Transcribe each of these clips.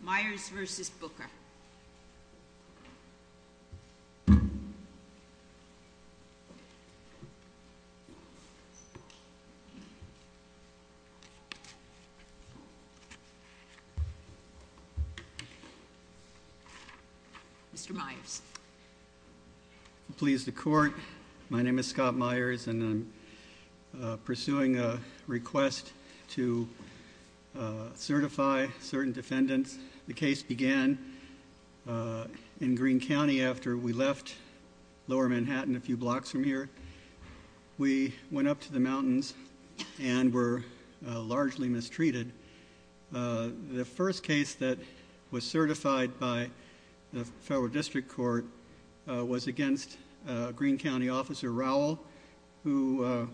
Myers v. Bucca Mr. Myers Please the court my name is Scott Myers and I'm pursuing a request to certify certain defendants. The case began in Greene County after we left lower Manhattan a few blocks from here. We went up to the mountains and were largely mistreated. The first case that was certified by the federal district court was against Greene County officer Rowell who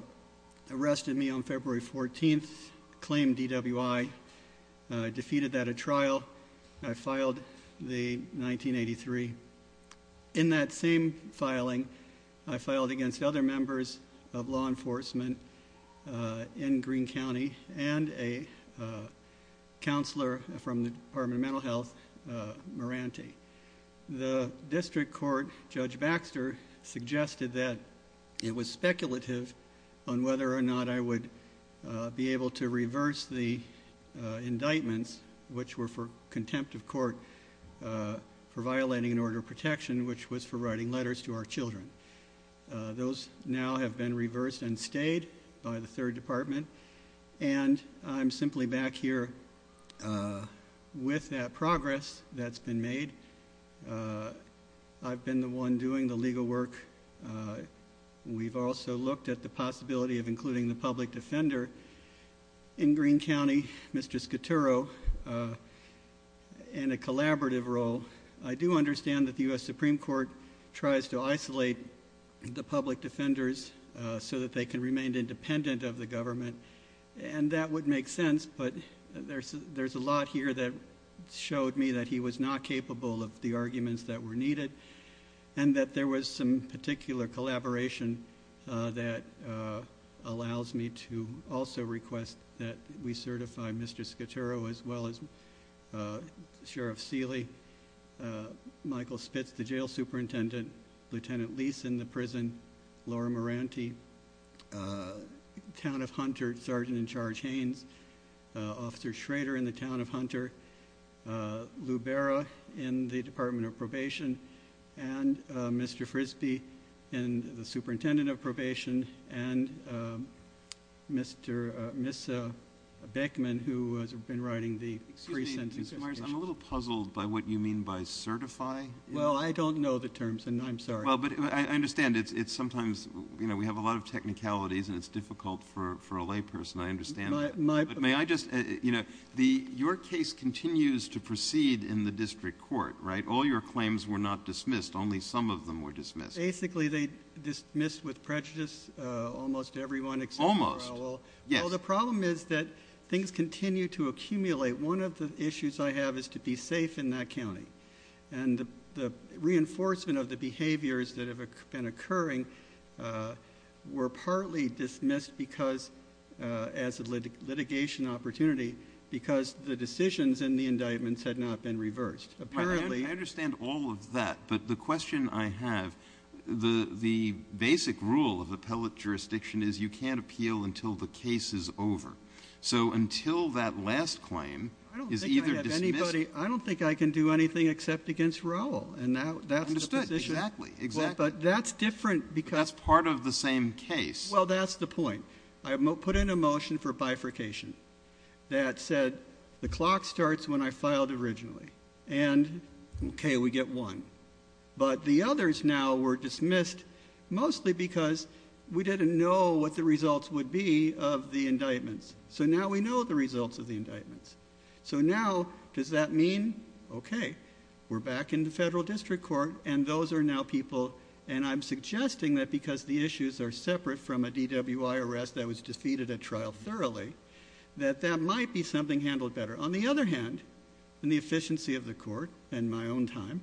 arrested me on February 14th claimed DWI. I defeated that at trial. I filed the 1983. In that same filing I filed against other members of law enforcement in Greene County and a counselor from the Department of Mental Health, Moranty. The district court judge Baxter suggested that it was speculative on whether or not I would be able to reverse the indictments which were for contempt of court for violating an order of protection which was for writing letters to our children. Those now have been reversed and stayed by the third department and I'm simply back here with that progress that's been made. I've been the one doing the legal work. We've also looked at the possibility of including the public defender in Greene County, Mr. Scaturro, in a collaborative role. I do understand that the US Supreme Court tries to isolate the public defenders so that they can remain independent of the government and that would make sense but there's a lot here that showed me that he was not capable of the arguments that were needed and that there was some particular collaboration that allows me to also request that we certify Mr. Scaturro as well as Sheriff Seeley, Michael Spitz, the jail superintendent, Lieutenant Lease in the town of Hunter, Sergeant-in-Charge Haynes, Officer Schrader in the town of Hunter, Lou Berra in the Department of Probation, and Mr. Frisbee and the superintendent of probation, and Miss Beckman who has been writing the pre-sentence. I'm a little puzzled by what you mean by certify. Well I don't know the terms and I'm sorry. Well but I understand it's sometimes you know we have a lot of technicalities and it's difficult for a layperson. I understand that. May I just, you know, your case continues to proceed in the district court, right? All your claims were not dismissed. Only some of them were dismissed. Basically they dismissed with prejudice. Almost everyone. Almost. Well the problem is that things continue to accumulate. One of the issues I have is to be safe in that county and the reinforcement of the behaviors that have been occurring were partly dismissed because as a litigation opportunity because the decisions in the indictments had not been reversed. Apparently. I understand all of that but the question I have, the basic rule of appellate jurisdiction is you can't appeal until the case is over. So until that last claim is either dismissed. I don't think I can do anything except against Raul. And now that's the position. Exactly. But that's different because. That's part of the same case. Well that's the point. I put in a motion for bifurcation that said the clock starts when I filed originally. And okay we get one. But the others now were dismissed mostly because we didn't know what the results would be of the indictments. So now we know the results of the indictments. So now does that mean okay we're back in the federal district court and those are now people and I'm suggesting that because the issues are separate from a DWI arrest that was defeated at trial thoroughly that that might be something handled better. On the other hand in the efficiency of the court and my own time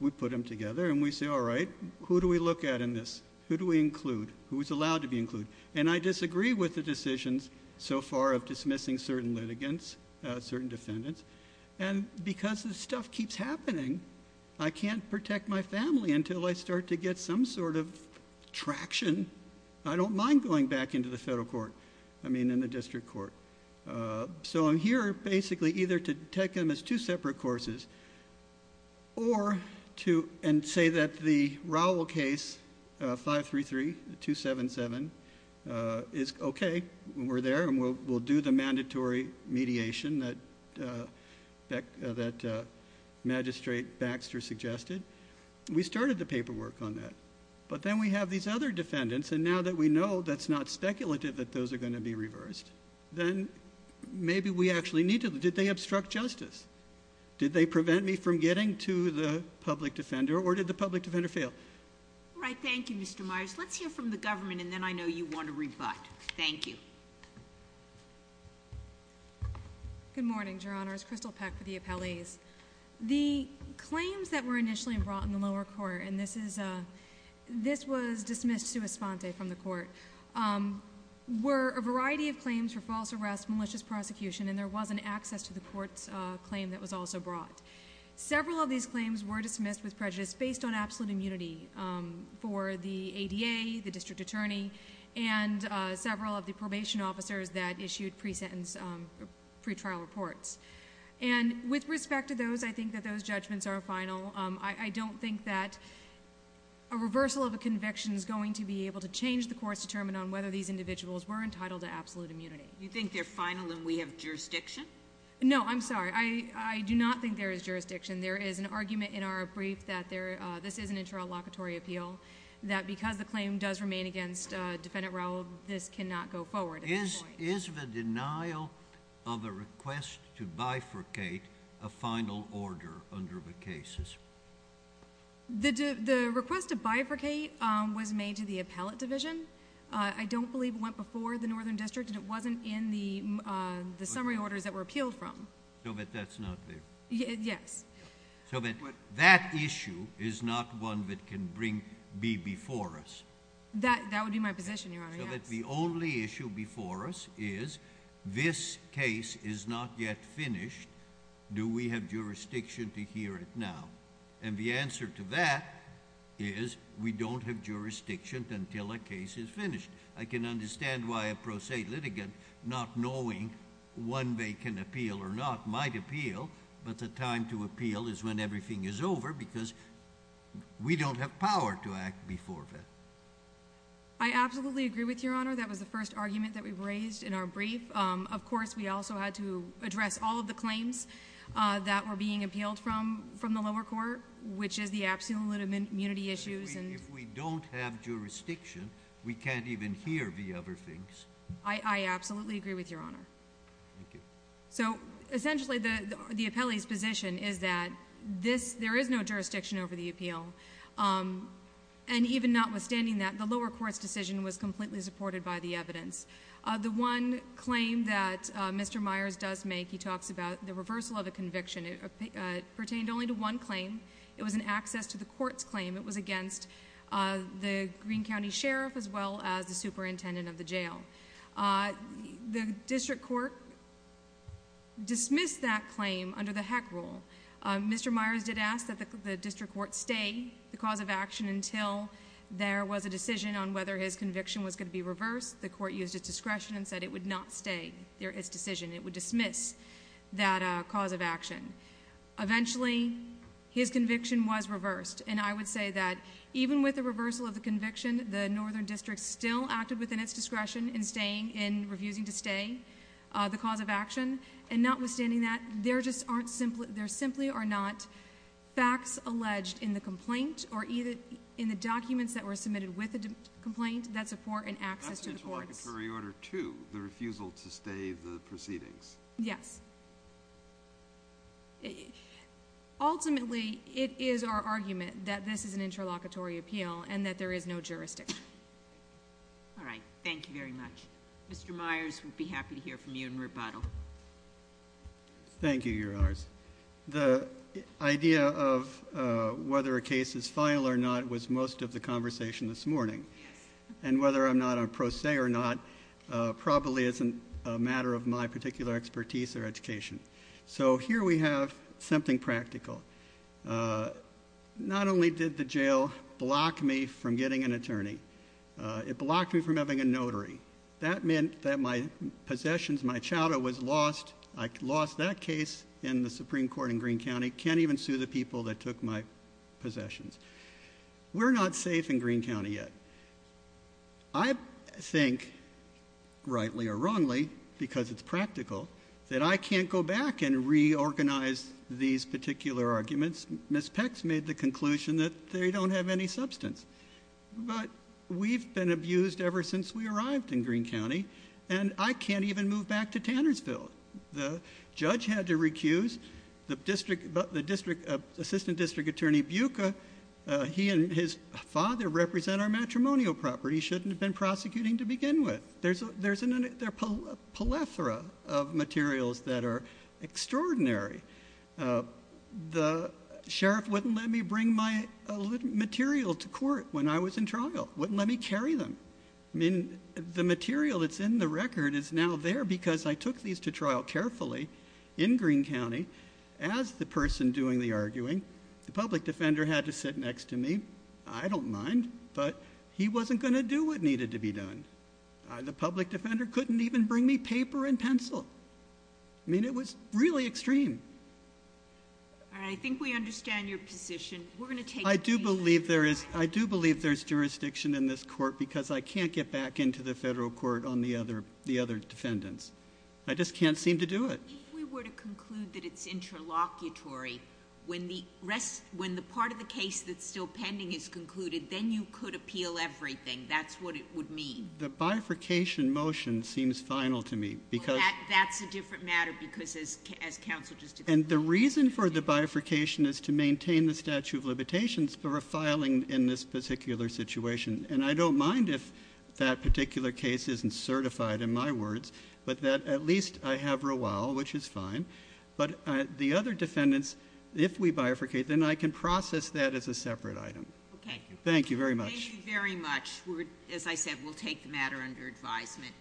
we put them together and we say all right who do we look at in this? Who do we include? Who is allowed to be included? And I disagree with the decisions so far of dismissing certain litigants, certain defendants. And because this stuff keeps happening I can't protect my family until I start to get some sort of traction. I don't mind going back into the federal court. I mean in the district court. So I'm here basically either to take them as two separate courses or to and say that the mediation that that magistrate Baxter suggested we started the paperwork on that. But then we have these other defendants and now that we know that's not speculative that those are going to be reversed then maybe we actually need to. Did they obstruct justice? Did they prevent me from getting to the public defender or did the public defender fail? Right thank you Mr. Myers. Let's hear from the government and then I know you want to rebut. Thank you. Good morning Your Honors. Crystal Peck for the appellees. The claims that were initially brought in the lower court and this is a this was dismissed sua sponte from the court were a variety of claims for false arrest, malicious prosecution and there wasn't access to the court's claim that was also brought. Several of these claims were dismissed with prejudice based on absolute immunity for the A. D. A. The district attorney and several of the probation officers that issued pre sentence pre trial reports and with respect to those I think that those judgments are final. I don't think that a reversal of a conviction is going to be able to change the course determined on whether these individuals were entitled to absolute immunity. You think they're final and we have jurisdiction? No, I'm sorry. I do not think there is jurisdiction. There is an interlocutory appeal that because the claim does remain against defendant Raul, this cannot go forward. Is the denial of a request to bifurcate a final order under the cases? The request to bifurcate was made to the appellate division. I don't believe it went before the Northern District and it wasn't in the the summary orders that were appealed from. So that that's not one that can bring be before us. That that would be my position. Your honor, that the only issue before us is this case is not yet finished. Do we have jurisdiction to hear it now? And the answer to that is we don't have jurisdiction until a case is finished. I can understand why a pro se litigant not knowing when they can appeal or not might appeal. But the time to appeal is when everything is over because we don't have power to act before that. I absolutely agree with your honor. That was the first argument that we raised in our brief. Of course, we also had to address all of the claims that were being appealed from from the lower court, which is the absolute immunity issues. And if we don't have jurisdiction, we can't even hear the other things. I absolutely agree with your honor. Thank you. So essentially the the appellee's position is that this there is no jurisdiction over the appeal. Um, and even notwithstanding that, the lower court's decision was completely supported by the evidence of the one claim that Mr Myers does make. He talks about the reversal of a conviction. It pertained only to one claim. It was an access to the court's claim. It was against, uh, the Green County Sheriff as well as the superintendent of the jail. Uh, the district court dismissed that claim under the heck rule. Mr Myers did ask that the district court stay the cause of action until there was a decision on whether his conviction was going to be reversed. The court used its discretion and said it would not stay. There is decision. It would dismiss that cause of action. Eventually, his conviction was reversed. And I would say that even with the reversal of the conviction, the northern district still acted within its discretion and staying in refusing to stay the cause of action. And notwithstanding that, there just aren't simply there simply are not facts alleged in the complaint or either in the documents that were submitted with a complaint that support and access to the court's order to the refusal to stay the proceedings. Yes. It ultimately it is our argument that this is an interlocutory appeal and that there is no jurisdiction. All right. Thank you very much. Mr Myers would be happy to hear from you in rebuttal. Thank you. Your hours. The idea of whether a case is final or not was most of the conversation this morning and whether I'm not a pro se or not, probably isn't a matter of my particular expertise or education. So here we have something practical. Uh, not only did the jail block me from getting an attorney, uh, it blocked me from having a notary. That meant that my possessions, my chowder was lost. I lost that case in the Supreme Court in Green County. Can't even sue the people that took my possessions. We're not safe in Green County yet. I think rightly or wrongly because it's practical that I can't go back and reorganize these particular arguments. Miss Pex made the conclusion that they but we've been abused ever since we arrived in Green County and I can't even move back to Tannersville. The judge had to recuse the district, but the district assistant district attorney Buca, he and his father represent our matrimonial property. Shouldn't have been prosecuting to begin with. There's there's a plethora of materials that are extraordinary. Uh, the sheriff wouldn't let me bring my material to court when I was in trial. Wouldn't let me carry them. I mean, the material that's in the record is now there because I took these to trial carefully in Green County as the person doing the arguing. The public defender had to sit next to me. I don't mind, but he wasn't going to do what needed to be done. The public defender couldn't even bring me paper and pencil. I mean, it was really extreme. I think we understand your position. We're going to take. I do believe there is. I do believe there's jurisdiction in this court because I can't get back into the federal court on the other. The other defendants. I just can't seem to do it. If we were to conclude that it's interlocutory when the rest when the part of the case that's still pending is concluded, then you could bifurcation motion seems final to me because that's a different matter because as as counsel just and the reason for the bifurcation is to maintain the statute of limitations for filing in this particular situation. And I don't mind if that particular case isn't certified in my words, but that at least I have real well, which is fine. But the other defendants, if we bifurcate, then I can process that as a separate item. Thank you very much. Thank you very much. We're, as I said, we'll take the matter under advisement.